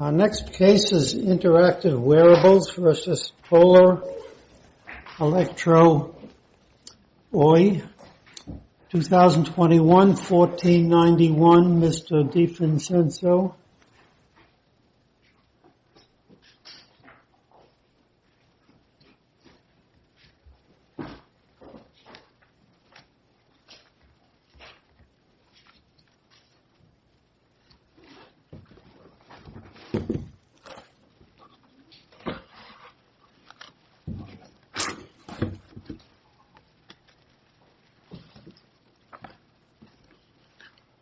Our next case is Interactive Wearables v. Polar Electro Oy 2021-1491, Mr. DeFincenso.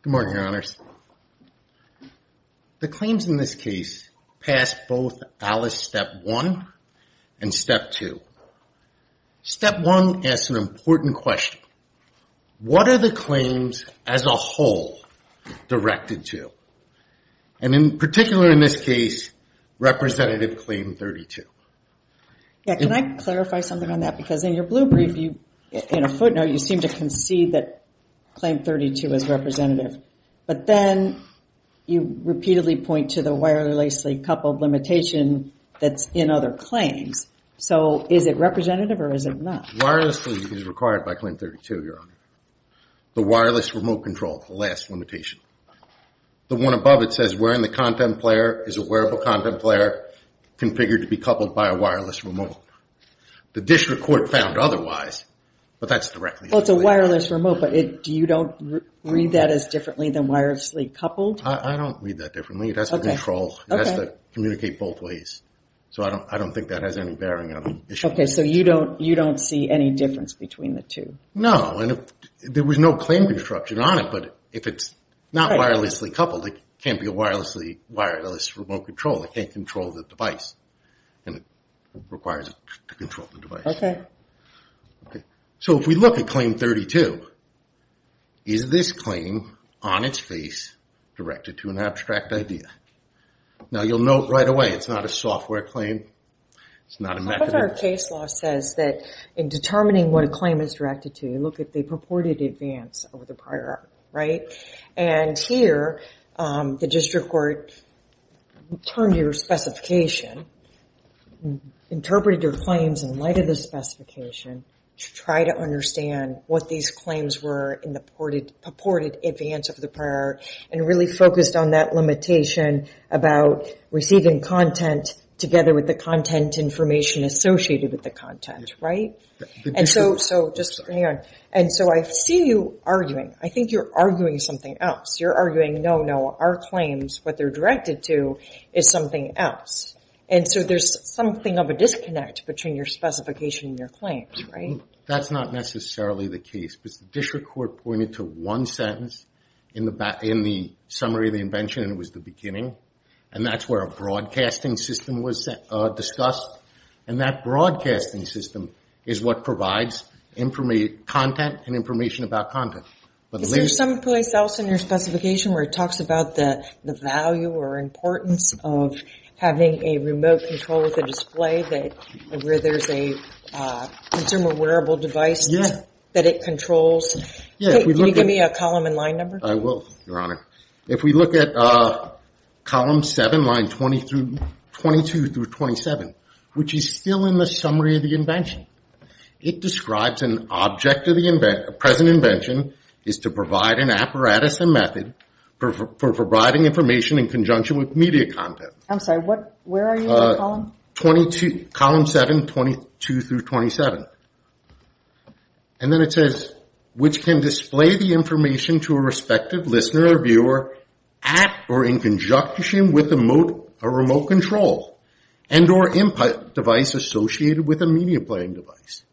Good morning, Your Honors. The claims in this case passed both ALICE Step 1 and Step 2. Step 1 asks an important question. What are the claims as a whole directed to? And in particular in this case, Representative Claim 32. Can I clarify something on that? Because in your blue brief, in a footnote, you seem to concede that Claim 32 is representative. But then you repeatedly point to the wirelessly coupled limitation that's in other claims. So is it representative or is it not? Wirelessly is required by Claim 32, Your Honor. The wireless remote control, the last limitation. The one above it says wearing the content player is a wearable content player configured to be coupled by a wireless remote. The district court found otherwise, but that's directly a claim. Well, it's a wireless remote, but do you don't read that as differently than wirelessly coupled? I don't read that differently. It has to control. It has to communicate both ways. So I don't think that has any bearing on the issue. Okay. So you don't see any difference between the two? No. There was no claim construction on it, but if it's not wirelessly coupled, it can't be a wireless remote control. It can't control the device, and it requires it to control the device. Okay. Okay. So if we look at Claim 32, is this claim on its face directed to an abstract idea? Now you'll note right away, it's not a software claim. It's not a mechanism. Part of our case law says that in determining what a claim is directed to, look at the purported advance over the prior article, right? And here, the district court termed your specification, interpreted your claims in light of the specification to try to understand what these claims were in the purported advance of the prior, and really focused on that limitation about receiving content together with the content information associated with the content, right? And so I see you arguing. I think you're arguing something else. You're arguing, no, no, our claims, what they're directed to, is something else. And so there's something of a disconnect between your specification and your claims, right? That's not necessarily the case, because the district court pointed to one sentence in the summary of the invention, and it was the beginning, and that's where a broadcasting system was discussed, and that broadcasting system is what provides content and information about content. Is there some place else in your specification where it talks about the value or importance of having a remote control with a display where there's a consumer wearable device that it controls? Yeah. Can you give me a column and line number? I will, Your Honor. If we look at column seven, line 22 through 27, which is still in the summary of the invention, it describes an object of the present invention is to provide an apparatus and method for providing information in conjunction with media content. I'm sorry, where are you in that column? Column seven, 22 through 27. And then it says, which can display the information to a respective listener or viewer at or in conjunction with a remote control and or input device associated with a media playing device.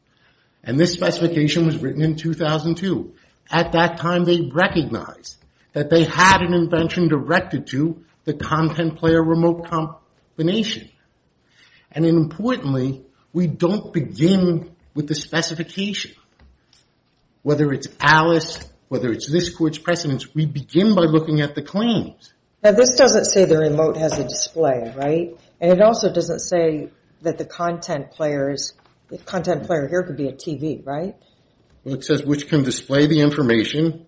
And this specification was written in 2002. At that time, they recognized that they had an invention directed to the content player remote control. And importantly, we don't begin with the specification. Whether it's Alice, whether it's this court's precedence, we begin by looking at the claims. Now, this doesn't say the remote has a display, right? And it also doesn't say that the content player here could be a TV, right? It says which can display the information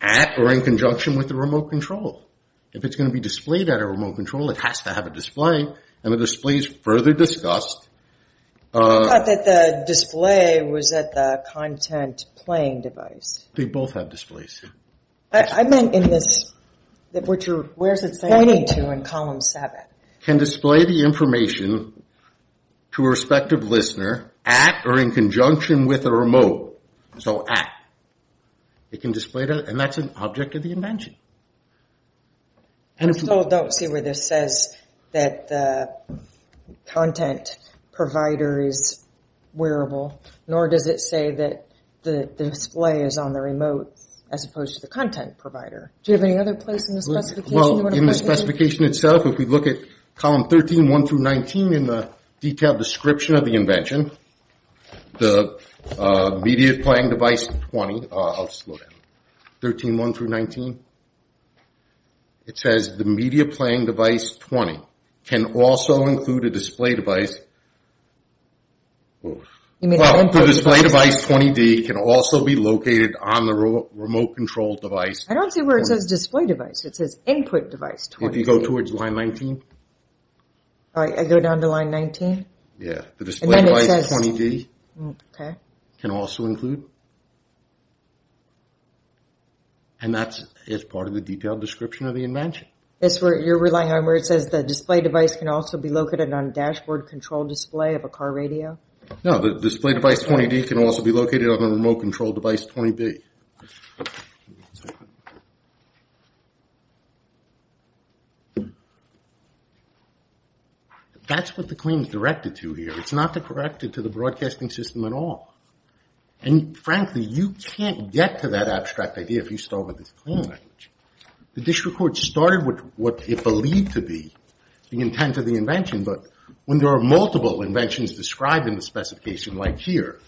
at or in conjunction with the remote control. If it's going to be displayed at a remote control, it has to have a display. And the display is further discussed. I thought that the display was at the content playing device. They both have displays. I meant in this, where is it pointing to in column seven? Can display the information to a respective listener at or in conjunction with a remote. So at. It can display that, and that's an object of the invention. I still don't see where this says that the content provider is wearable, nor does it say that the display is on the remote as opposed to the content provider. Do you have any other place in the specification? Well, in the specification itself, if we look at column 13, 1 through 19, in the detailed description of the invention, the media playing device 20, I'll just look at it, 13, 1 through 19, it says the media playing device 20 can also include a display device, well, the display device 20D can also be located on the remote control device. I don't see where it says display device. It says input device 20D. If you go towards line 19. I go down to line 19? Yeah, the display device 20D can also include, and that's part of the detailed description of the invention. That's where you're relying on where it says the display device can also be located on dashboard control display of a car radio? No, the display device 20D can also be located on the remote control device 20D. That's what the claim is directed to here. It's not directed to the broadcasting system at all. And frankly, you can't get to that abstract idea if you start with this claim. The district court started with what it believed to be the intent of the invention, but when there are multiple inventions described in the specification, like here,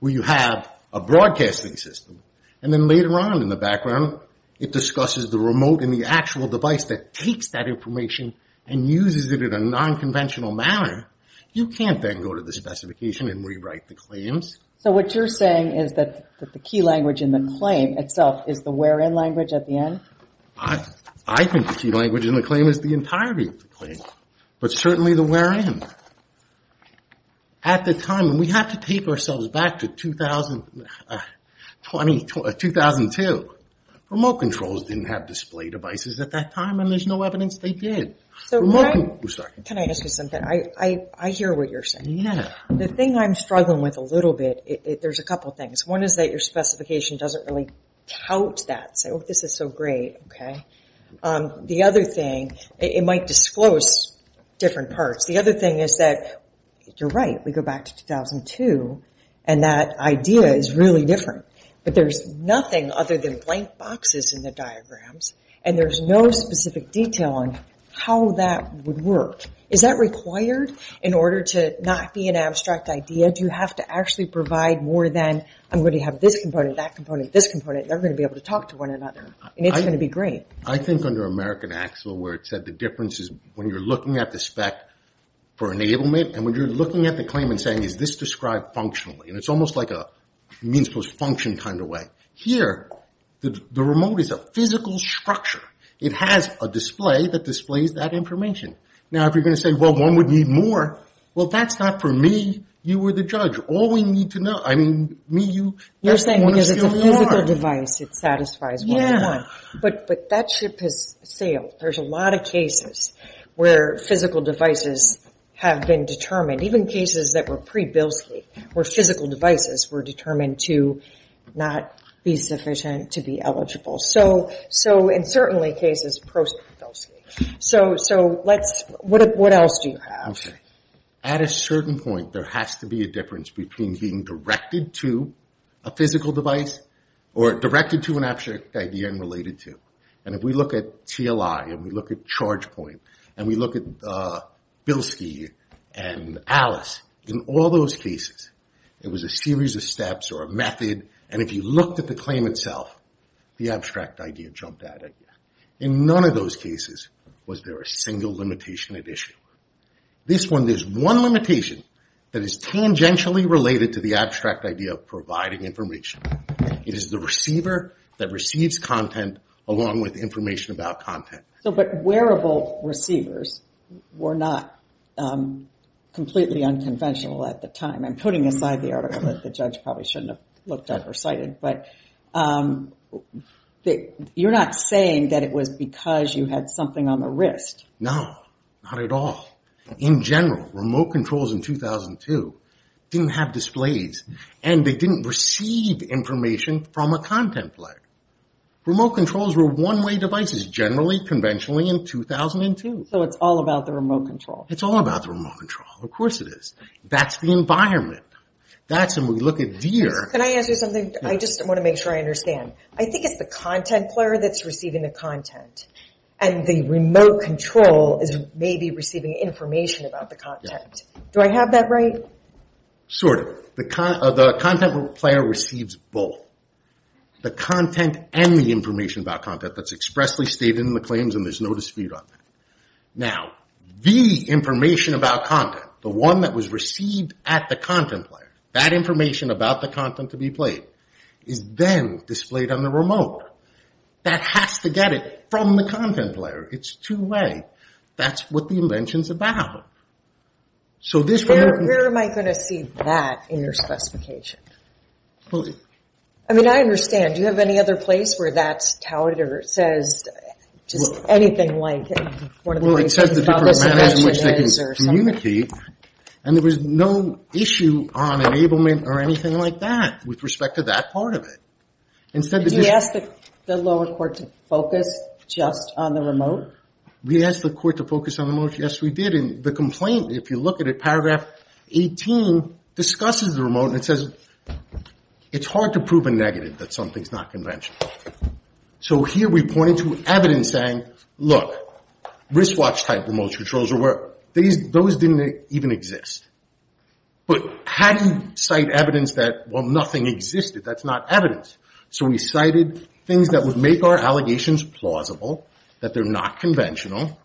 where you have a broadcasting system, and then later on in the background, it discusses the remote and the actual device that takes that information and uses it in a non-conventional manner, you can't then go to the specification and rewrite the claims. So what you're saying is that the key language in the claim itself is the where in language at the end? I think the key language in the claim is the entirety of the claim, but certainly the where in. At the time, we have to take ourselves back to 2002. Remote controls didn't have display devices at that time, and there's no evidence they did. Can I ask you something? I hear what you're saying. The thing I'm struggling with a little bit, there's a couple things. One is that your specification doesn't really tout that, so this is so great. The other thing, it might disclose different parts. The other thing is that you're right, we go back to 2002, and that idea is really different, but there's nothing other than blank boxes in the diagrams, and there's no specific detail on how that would work. Is that required in order to not be an abstract idea? Do you have to actually provide more than I'm going to have this component, that component, this component? They're going to be able to talk to one another, and it's going to be great. I think under American Axel, where it said the difference is when you're looking at the spec for enablement, and when you're looking at the claim and saying, is this described functionally, and it's almost like a means-posed function kind of way. Here, the remote is a physical structure. It has a display that displays that information. Now, if you're going to say, well, one would need more, well, that's not for me. You were the judge. All we need to know, I mean, me, you, everyone is going to want more. You're saying because it's a physical device, it satisfies what we want, but that ship has sailed. There's a lot of cases where physical devices have been determined, even cases that were pre-Bilski, where physical devices were determined to not be sufficient to be eligible. And certainly cases post-Bilski. What else do you have? At a certain point, there has to be a difference between being directed to a physical device or directed to an abstract idea and related to. And if we look at TLI, and we look at ChargePoint, and we look at Bilski and Alice, in all those cases, it was a series of steps or a method. And if you looked at the claim itself, the abstract idea jumped out at you. In none of those cases was there a single limitation at issue. This one, there's one limitation that is tangentially related to the abstract idea of providing information. It is the receiver that receives content along with information about content. But wearable receivers were not completely unconventional at the time. I'm putting aside the article that the judge probably shouldn't have looked at or cited, but you're not saying that it was because you had something on the wrist. No, not at all. In general, remote controls in 2002 didn't have displays, and they didn't receive information from a content player. Remote controls were one-way devices, generally, conventionally, in 2002. So it's all about the remote control? It's all about the remote control. Of course it is. That's the environment. Can I ask you something? I just want to make sure I understand. I think it's the content player that's receiving the content, and the remote control is maybe receiving information about the content. Do I have that right? Sort of. The content player receives both the content and the information about content that's expressly stated in the claims, and there's no dispute on that. Now, the information about content, the one that was received at the content player, that information about the content to be played is then displayed on the remote. That has to get it from the content player. It's two-way. That's what the invention's about. Where am I going to see that in your specification? I mean, I understand. Do you have any other place where that's touted or says just anything like... Well, it says the different manners in which they can communicate, and there was no issue on enablement or anything like that with respect to that part of it. We asked the court to focus on the remote. Yes, we did. And the complaint, if you look at it, paragraph 18, discusses the remote, and it says it's hard to prove a negative that something's not conventional. So here we're pointing to evidence saying, look, wristwatch-type remote controls or whatever, those didn't even exist. But how do you cite evidence that, well, nothing existed? That's not evidence. So we cited things that would make our allegations plausible, that they're not conventional,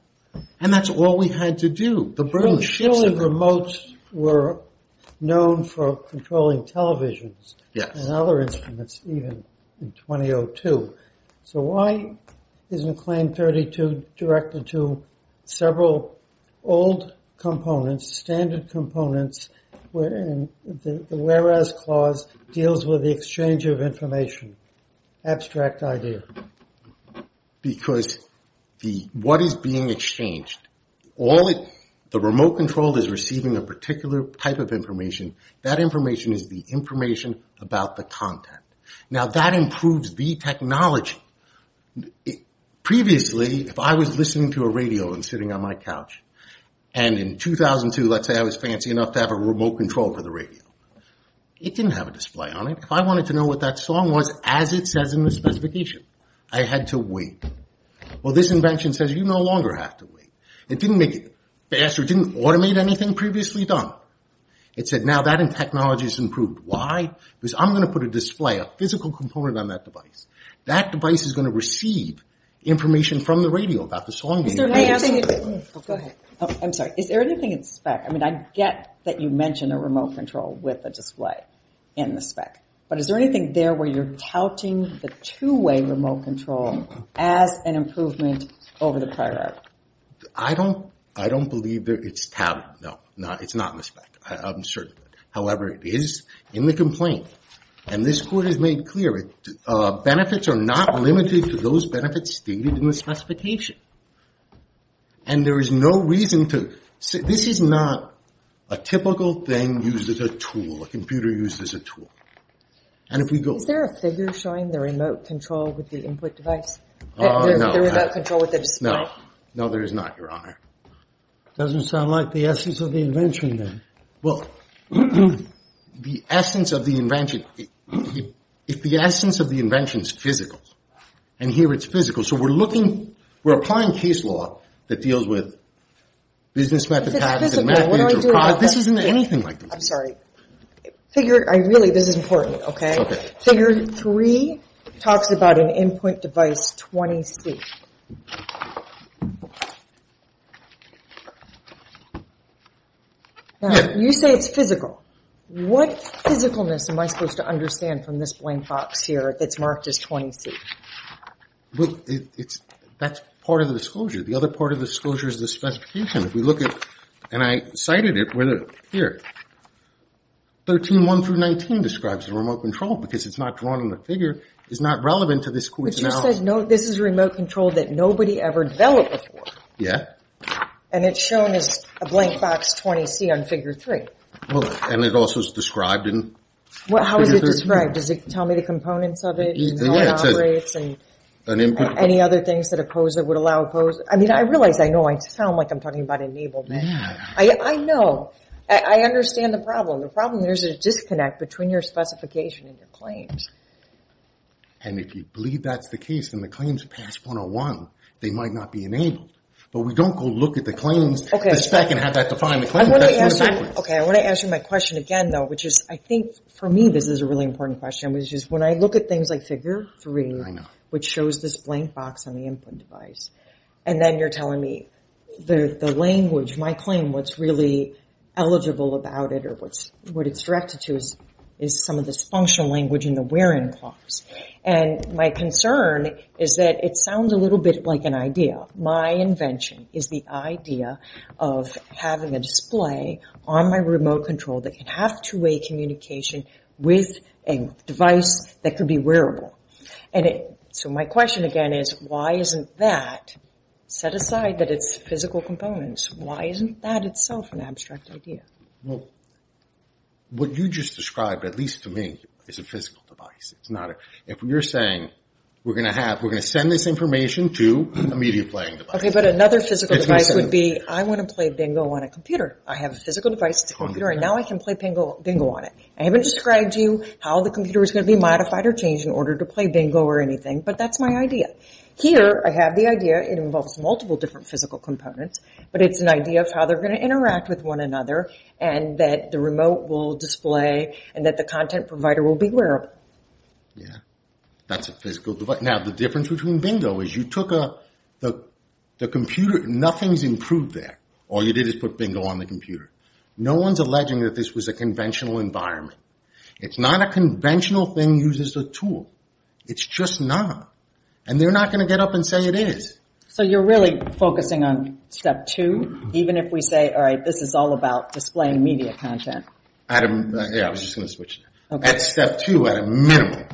and that's all we had to do. The burden shifts. The wheel and remotes were known for controlling televisions and other instruments even in 2002. So why isn't Claim 32 directed to several old components, standard components, whereas clause deals with the exchange of information? Abstract idea. Because what is being exchanged, the remote control is receiving a particular type of information. That information is the information about the content. Now, that improves the technology. Previously, if I was listening to a radio and sitting on my couch, and in 2002, let's say I was fancy enough to have a remote control for the radio, it didn't have a display on it. If I wanted to know what that song was, as it says in the specification, I had to wait. Well, this invention says you no longer have to wait. It didn't make it faster. It didn't automate anything previously done. It said, now that technology has improved. Why? Because I'm going to put a display, a physical component on that device. That device is going to receive information from the radio about the song being played. I'm sorry. Is there anything in spec? I mean, I get that you mentioned a remote control with a display. In the spec. But is there anything there where you're touting the two-way remote control as an improvement over the prior? I don't believe it's touted. No, it's not in the spec. I'm certain. However, it is in the complaint. And this court has made clear that benefits are not limited to those benefits stated in the specification. And there is no reason to. This is not a typical thing used as a tool. A computer used as a tool. Is there a figure showing the remote control with the input device? The remote control with the display? No, there is not, Your Honor. Doesn't sound like the essence of the invention, then. The essence of the invention. If the essence of the invention is physical, and here it's physical. So we're looking, we're applying case law that deals with business methodologies. If it's physical, what do I do about that? This isn't anything like that. I'm sorry. Figure three talks about an input device 20C. You say it's physical. What physicalness am I supposed to understand from this blank box here that's marked as 20C? That's part of the disclosure. The other part of the disclosure is the specification. If we look at, and I cited it here, 13.1 through 19 describes the remote control. Because it's not drawn on the figure, it's not relevant to this court's analysis. But you said this is remote control that nobody ever developed before. And it's shown as a blank box 20C on figure three. And it also is described in figure three. How is it described? Does it tell me the components of it, and how it operates, and any other things that a POSA would allow a POSA? I mean, I realize, I know I sound like I'm talking about enablement. I know. I understand the problem. The problem is there's a disconnect between your specification and your claims. And if you believe that's the case, and the claims pass 101, they might not be enabled. But we don't go look at the claims, the spec, and have that define the claims. I want to ask you my question again, though, which is, I think for me this is a really important question, which is when I look at things like figure three, which shows this blank box on the input device, and then you're telling me the language, my claim, what's really eligible about it, or what it's directed to is some of this functional language in the where-in clause. And my concern is that it sounds a little bit like an idea. My invention is the idea of having a display on my remote control that can have two-way communication with a device that could be wearable. So my question again is, why isn't that, set aside that it's physical components, why isn't that itself an abstract idea? Well, what you just described, at least to me, is a physical device. If you're saying we're going to send this information to a media playing device. Okay, but another physical device would be, I want to play bingo on a computer. I have a physical device, it's a computer, and now I can play bingo on it. I haven't described to you how the computer is going to be modified or changed in order to play bingo or anything, but that's my idea. Here I have the idea, it involves multiple different physical components, but it's an idea of how they're going to interact with one another and that the remote will display and that the content provider will be wearable. That's a physical device. Now the difference between bingo is you took the computer, nothing's improved there, all you did was put bingo on the computer. No one's alleging that this was a conventional environment. It's not a conventional thing used as a tool. It's just not. And they're not going to get up and say it is. So you're really focusing on step two, even if we say, all right, this is all about displaying media content? Yeah, I was just going to switch. At step two, at a minimum,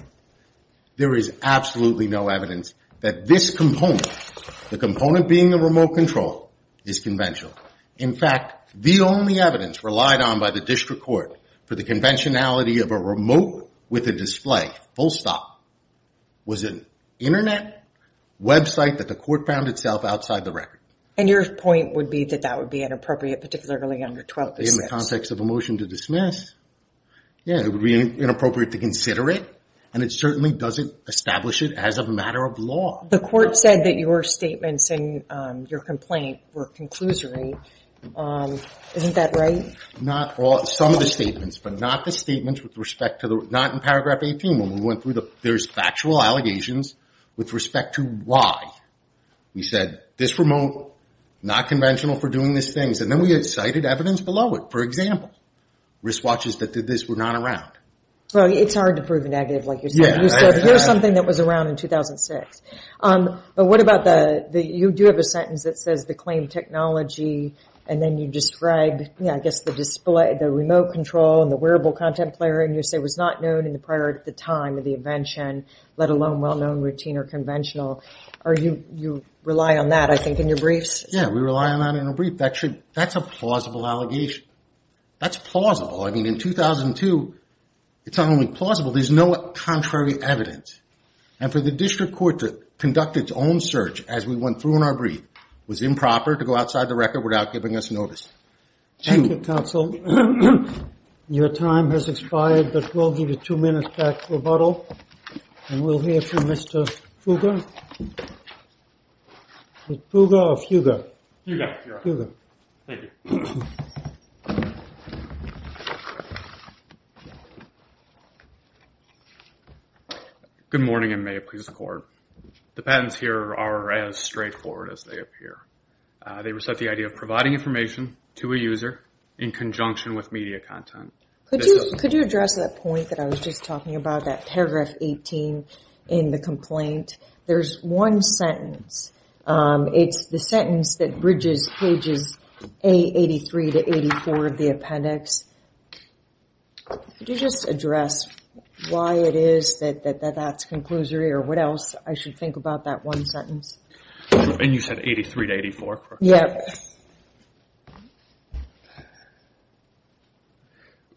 there is absolutely no evidence that this component, the component being the remote control, is conventional. In fact, the only evidence relied on by the district court for the conventionality of a remote with a display, full stop, was an internet website that the court found itself outside the record. And your point would be that that would be inappropriate, particularly under 12.6? In the context of a motion to dismiss, yeah, it would be inappropriate to consider it, and it certainly doesn't establish it as a matter of law. The court said that your statements in your complaint were conclusory. Isn't that right? Not all, some of the statements, but not the statements with respect to the, not in paragraph 18 when we went through the, there's factual allegations with respect to why we said this remote, not conventional for doing these things. And then we cited evidence below it. For example, wristwatches that did this were not around. Well, it's hard to prove a negative like you said. You said here's something that was around in 2006. But what about the, you do have a sentence that says the claimed technology, and then you describe, yeah, I guess the display, the remote control, and the wearable content player, and you say was not known in the prior, at the time of the invention, let alone well-known, routine, or conventional. Are you, you rely on that, I think, in your briefs? Yeah, we rely on that in our brief. That should, that's a plausible allegation. That's plausible. I mean, in 2002, it's not only plausible, there's no contrary evidence. And for the district court to conduct its own search as we went through in our brief was improper to go outside the record without giving us notice. Thank you, counsel. Your time has expired, but we'll give you two minutes back for rebuttal. And we'll hear from Mr. Fugger. Is it Fugger or Fugger? Fugger. Good morning, and may it please the court. The patents here are as straightforward as they appear. They reset the idea of providing information to a user in conjunction with media content. Could you address that point that I was just talking about, that paragraph 18 in the complaint? There's one sentence. It's the sentence that bridges pages A83 to 84 of the appendix. Could you just address why it is that that's conclusory, or what else I should think about that one sentence? And you said 83 to 84? Yeah.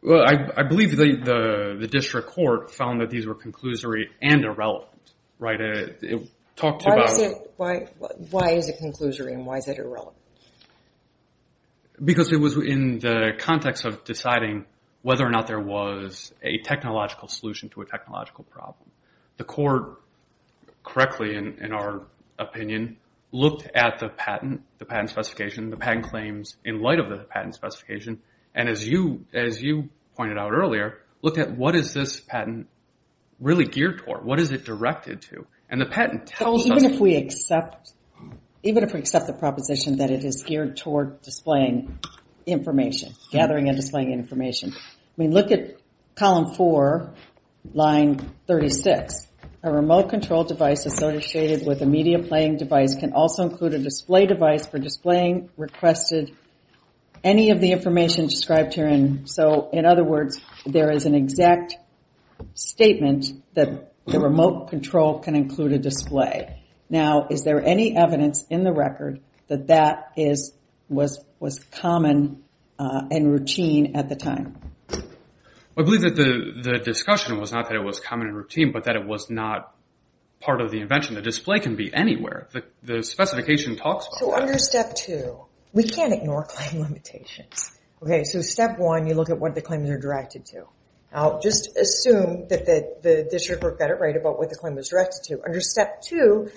I believe the district court found that these were conclusory and irrelevant. Why is it conclusory and why is it irrelevant? Because it was in the context of deciding whether or not there was a technological solution to a technological problem. The court, correctly in our opinion, looked at the patent, the patent specification, the patent claims in light of the patent specification, and as you pointed out earlier, looked at what is this patent really geared toward? What is it directed to? Even if we accept the proposition that it is geared toward displaying information, gathering and displaying information, look at column four, line 36. A remote control device associated with a media playing device can also include a display device for displaying requested any of the information described here. In other words, there is an exact statement that the remote control can include a display. Now, is there any evidence in the record that that was common and routine at the time? I believe that the discussion was not that it was common and routine, but that it was not part of the invention. The display can be anywhere. The specification talks about that. So under step two, we can't ignore claim limitations. Okay, so step one, you look at what the claims are directed to. Now, just assume that the district court got it right about what the claim was directed to. Under step two,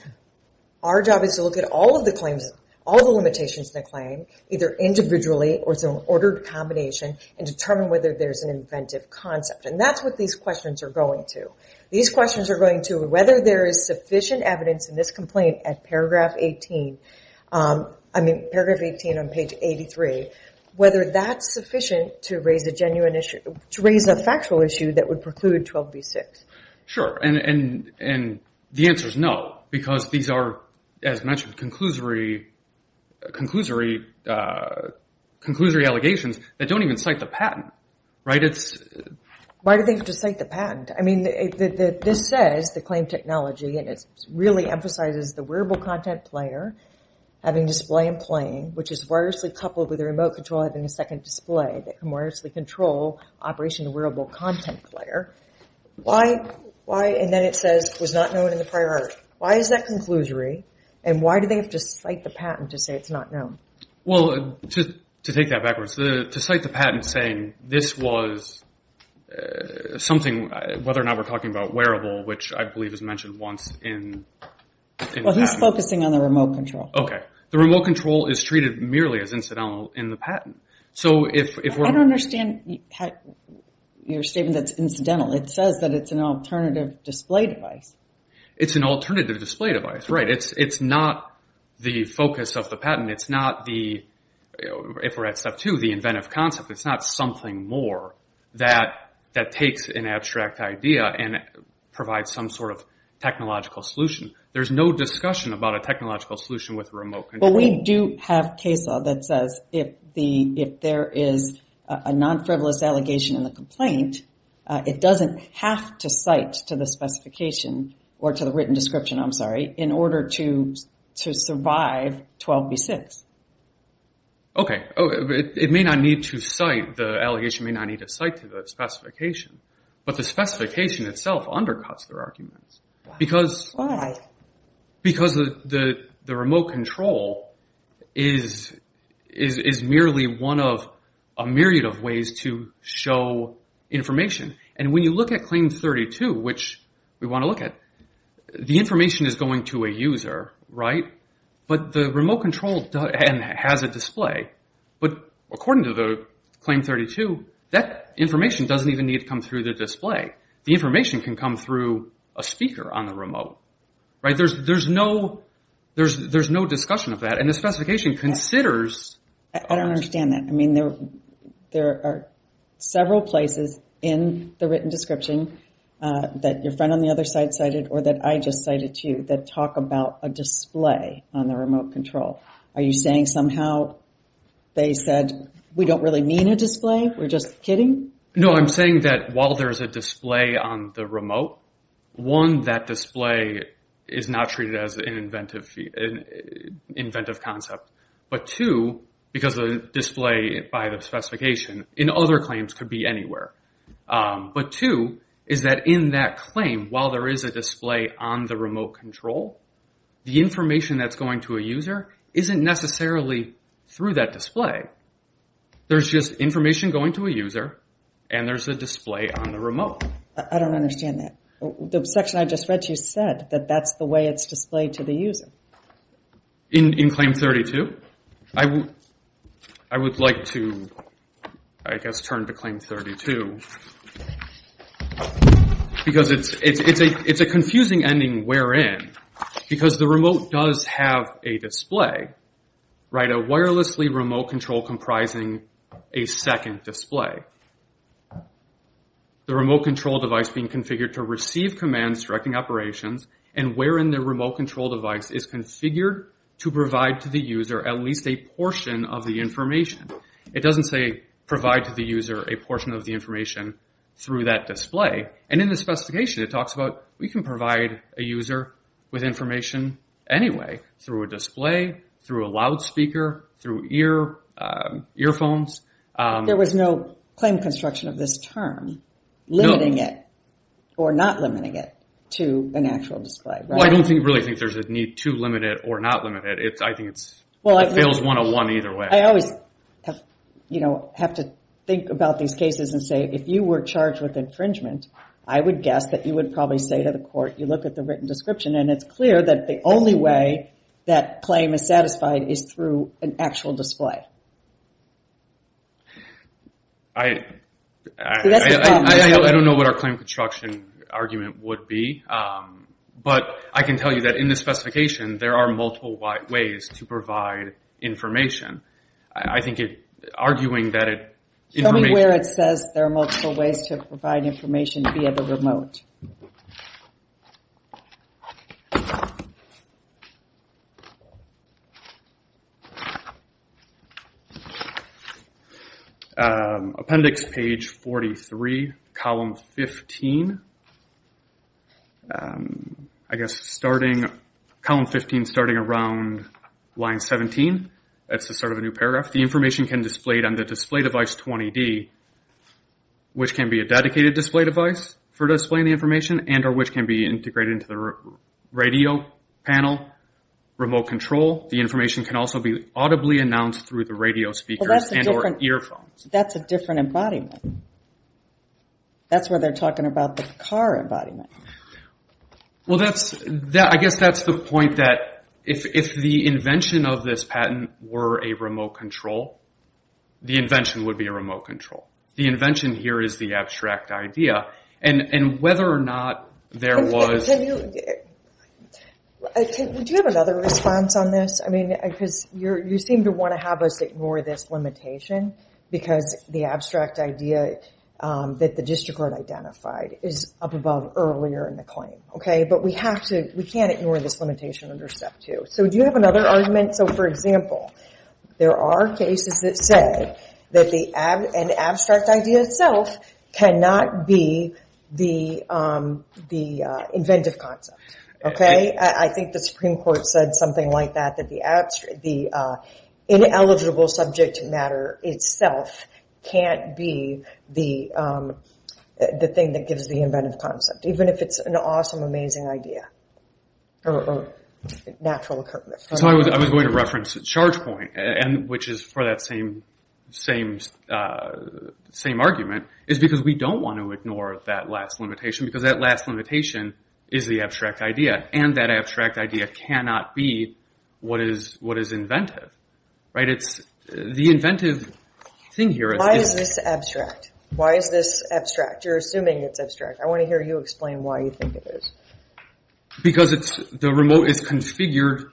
our job is to look at all of the limitations in the claim, either individually or as an ordered combination, and determine whether there is an inventive concept. And that's what these questions are going to. These questions are going to whether there is sufficient evidence in this complaint at paragraph 18, I mean, paragraph 18 on page 83, whether that's sufficient to raise a genuine issue, to raise a factual issue that would preclude 12b-6. Sure, and the answer is no, because these are, as mentioned, conclusory allegations that don't even cite the patent. Why do they have to cite the patent? I mean, this says, the claim technology, and it really emphasizes the wearable content player having display and playing, which is wirelessly coupled with a remote control having a second display that can wirelessly control operation of wearable content player. Why, and then it says, was not known in the prior article. Why is that conclusory, and why do they have to cite the patent to say it's not known? Well, to take that backwards, to cite the patent saying this was something, whether or not we're talking about wearable, which I believe is mentioned once in the patent. Well, he's focusing on the remote control. I don't understand your statement that's incidental. It says that it's an alternative display device. It's an alternative display device, right. It's not the focus of the patent. It's not the, if we're at step two, the inventive concept. It's not something more that takes an abstract idea and provides some sort of technological solution. There's no discussion about a technological solution with remote control. Well, we do have CASA that says if there is a non-frivolous allegation in the complaint, it doesn't have to cite to the specification, or to the written description, I'm sorry, in order to survive 12B6. Okay, it may not need to cite, the allegation may not need to cite to the specification, but the specification itself undercuts their arguments. Why? Because the remote control is merely one of a myriad of ways to show information. And when you look at Claim 32, which we want to look at, the information is going to a user, right, but the remote control has a display. But according to Claim 32, that information doesn't even need to come through the display. The information can come through a speaker on the remote. There's no discussion of that, and the specification considers... I don't understand that. There are several places in the written description that your friend on the other side cited, or that I just cited to you, that talk about a display on the remote control. Are you saying somehow they said, we don't really mean a display, we're just kidding? No, I'm saying that while there's a display on the remote, one, that display is not treated as an inventive concept, but two, because the display by the specification in other claims could be anywhere. But two, is that in that claim, while there is a display on the remote control, the information that's going to a user isn't necessarily through that display. There's just information going to a user, and there's a display on the remote. I don't understand that. The section I just read to you said that that's the way it's displayed to the user. In Claim 32? I would like to, I guess, turn to Claim 32, because it's a confusing ending, wherein, because the remote does have a display, a wirelessly remote control comprising a second display. The remote control device being configured to receive commands directing operations, and wherein the remote control device is configured to provide to the user at least a portion of the information. It doesn't say, provide to the user a portion of the information through that display. And in the specification, it talks about, we can provide a user with information anyway, through a display, through a loudspeaker, through earphones. There was no claim construction of this term, limiting it, or not limiting it, to an actual display. Well, I don't really think there's a need to limit it or not limit it. It fails 101 either way. I always have to think about these cases and say, if you were charged with infringement, I would guess that you would probably say to the court, you look at the written description, and it's clear that the only way that claim is satisfied is through an actual display. I don't know what our claim construction argument would be, but I can tell you that in the specification, there are multiple ways to provide information. I think arguing that it... Show me where it says there are multiple ways to provide information via the remote. Appendix page 43. Column 15. I guess starting around line 17, that's the start of a new paragraph. The information can be displayed on the display device 20D, which can be a dedicated display device for displaying the information, and which can be integrated into the radio panel, remote control. The information can also be audibly announced through the radio speakers and or earphones. That's a different embodiment. That's where they're talking about the car embodiment. I guess that's the point that if the invention of this patent were a remote control, the invention would be a remote control. The invention here is the abstract idea. Whether or not there was... Do you have another response on this? You seem to want to have us ignore this limitation because the abstract idea that the district court identified is up above earlier in the claim. We can't ignore this limitation under step two. Do you have another argument? For example, there are cases that say an abstract idea itself cannot be the inventive concept. I think the Supreme Court said something like that. The ineligible subject matter itself can't be the thing that gives the inventive concept, even if it's an awesome, amazing idea. I was going to reference Chargepoint, which is for that same argument. It's because we don't want to ignore that last limitation because that last limitation is the abstract idea. That abstract idea cannot be what is inventive. The inventive thing here is... Why is this abstract? You're assuming it's abstract. I want to hear you explain why you think it is. Because the remote is configured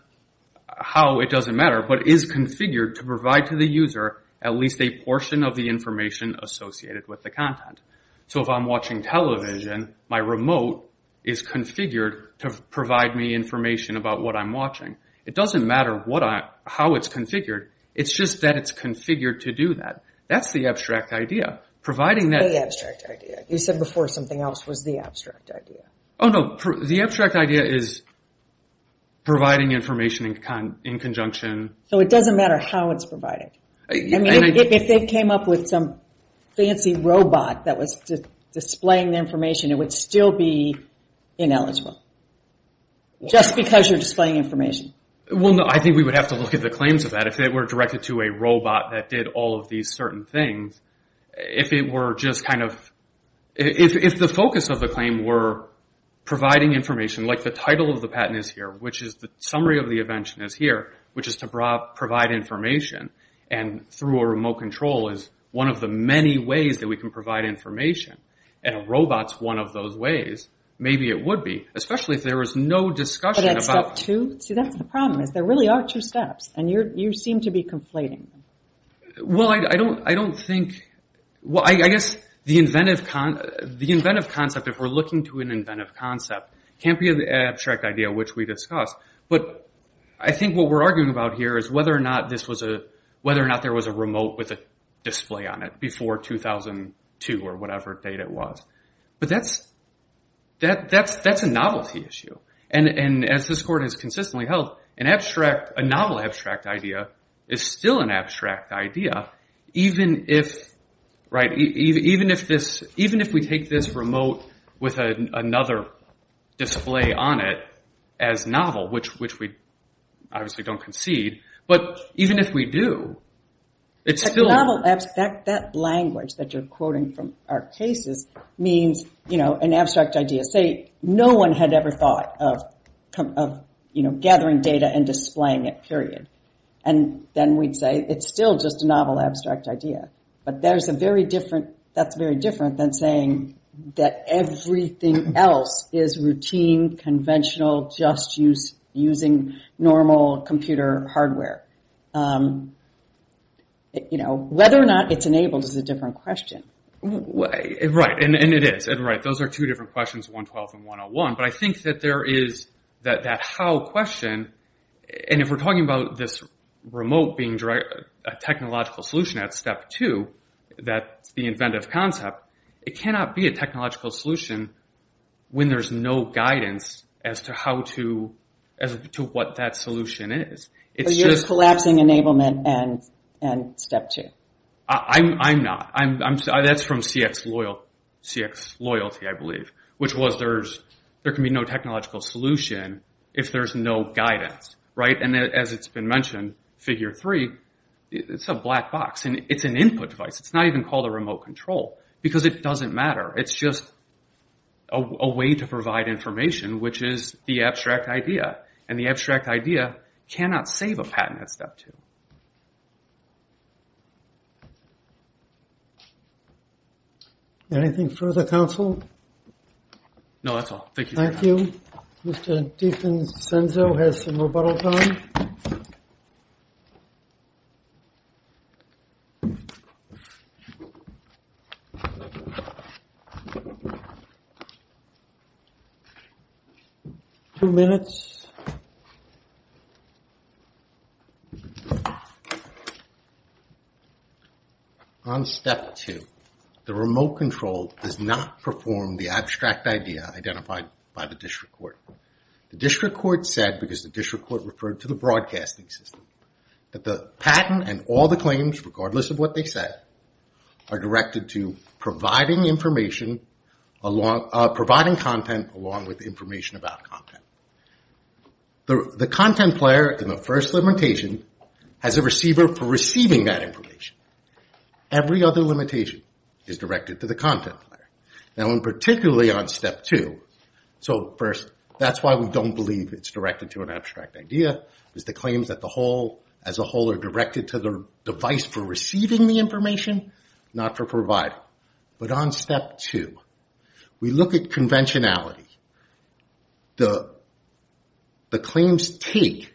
how it doesn't matter, but is configured to provide to the user at least a portion of the information associated with the content. If I'm watching television, my remote is configured to provide me information about what I'm watching. It doesn't matter how it's configured, it's just that it's configured to do that. That's the abstract idea. The abstract idea is providing information in conjunction... It doesn't matter how it's provided. If they came up with some fancy robot that was displaying the information, it would still be ineligible. Just because you're displaying information. If the focus of the claim were providing information, like the title of the patent is here, which is the summary of the invention is here, which is to provide information, and through a remote control is one of the many ways that we can provide information, and a robot is one of those ways, maybe it would be. There really are two steps, and you seem to be conflating them. The inventive concept, if we're looking to an inventive concept, can't be an abstract idea, which we discussed, but I think what we're arguing about here is whether or not there was a remote with a display on it before 2002 or whatever date it was. That's a novelty issue, and as this court has consistently held, a novel abstract idea is still an abstract idea, even if we take this remote with another display on it as novel, which we obviously don't concede, but even if we do... That language that you're quoting from our cases means an abstract idea. Let's say no one had ever thought of gathering data and displaying it, period, and then we'd say it's still just a novel abstract idea, but that's very different than saying that everything else is routine, conventional, just using normal computer hardware. Whether or not it's enabled is a different question. Right, and it is. Those are two different questions, 112 and 101, but I think that there is that how question, and if we're talking about this remote being a technological solution at step two, that's the inventive concept, it cannot be a technological solution when there's no guidance as to what that solution is. You're collapsing enablement and step two. I'm not. That's from CX Loyalty, I believe, which was there can be no technological solution if there's no guidance, and as it's been mentioned, figure three, it's a black box, and it's an input device. It's not even called a remote control, because it doesn't matter. It's just a way to provide information, which is the abstract idea, and the abstract idea cannot save a patent at step two. Anything further, counsel? No, that's all. Thank you. Two minutes. On step two, the remote control does not perform the abstract idea identified by the district court. The district court said, because the district court referred to the broadcasting system, that the patent and all the claims, regardless of what they said, are directed to providing information, providing content along with information about content. The content player in the first limitation has a receiver for receiving that information. Every other limitation is directed to the content player, particularly on step two. First, that's why we don't believe it's directed to an abstract idea. It's the claims that as a whole are directed to the device for receiving the information, not for providing. But on step two, we look at conventionality. The claims take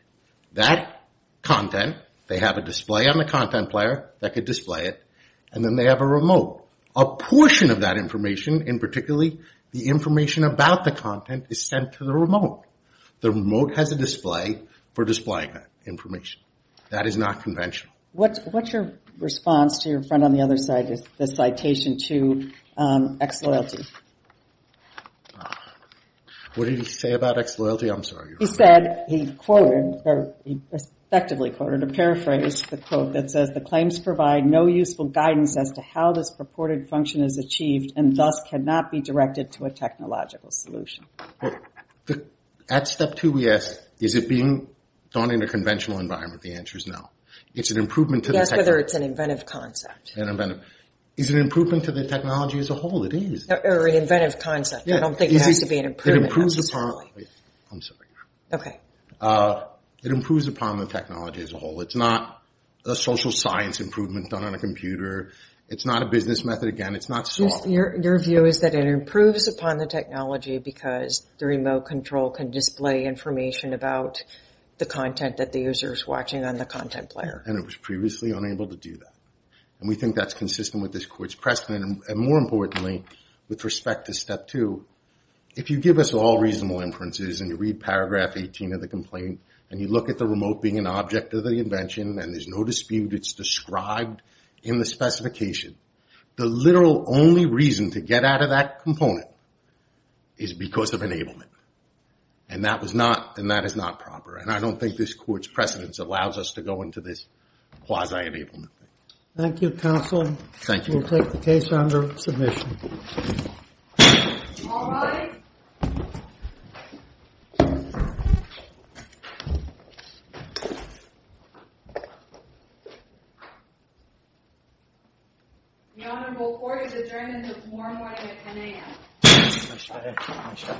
that content, they have a display on the content player that could display it, and then they have a remote. A portion of that information, and particularly the information about the content, is sent to the remote. The remote has a display for displaying that information. That is not conventional. What's your response to your friend on the other side, the citation to ex-loyalty? What did he say about ex-loyalty? I'm sorry. He said, he quoted, or effectively quoted, a paraphrase, the quote that says, that the claims provide no useful guidance as to how this purported function is achieved, and thus cannot be directed to a technological solution. At step two, we ask, is it being done in a conventional environment? The answer is no. It's an improvement to the technology. Is it an improvement to the technology as a whole? It is. It improves upon the technology as a whole. It's not a social science improvement done on a computer. It's not a business method. Your view is that it improves upon the technology because the remote control can display information about the content that the user is watching on the content player. It was previously unable to do that. We think that's consistent with this court's precedent. More importantly, with respect to step two, if you give us all reasonable inferences, and you read paragraph 18 of the complaint, and you look at the remote being an object of the invention, and there's no dispute it's described in the specification, the literal only reason to get out of that component is because of enablement. And that is not proper. And I don't think this court's precedence allows us to go into this quasi-enablement. Thank you, counsel. We'll take the case under submission. The honorable court is adjourned until tomorrow morning at 10 a.m.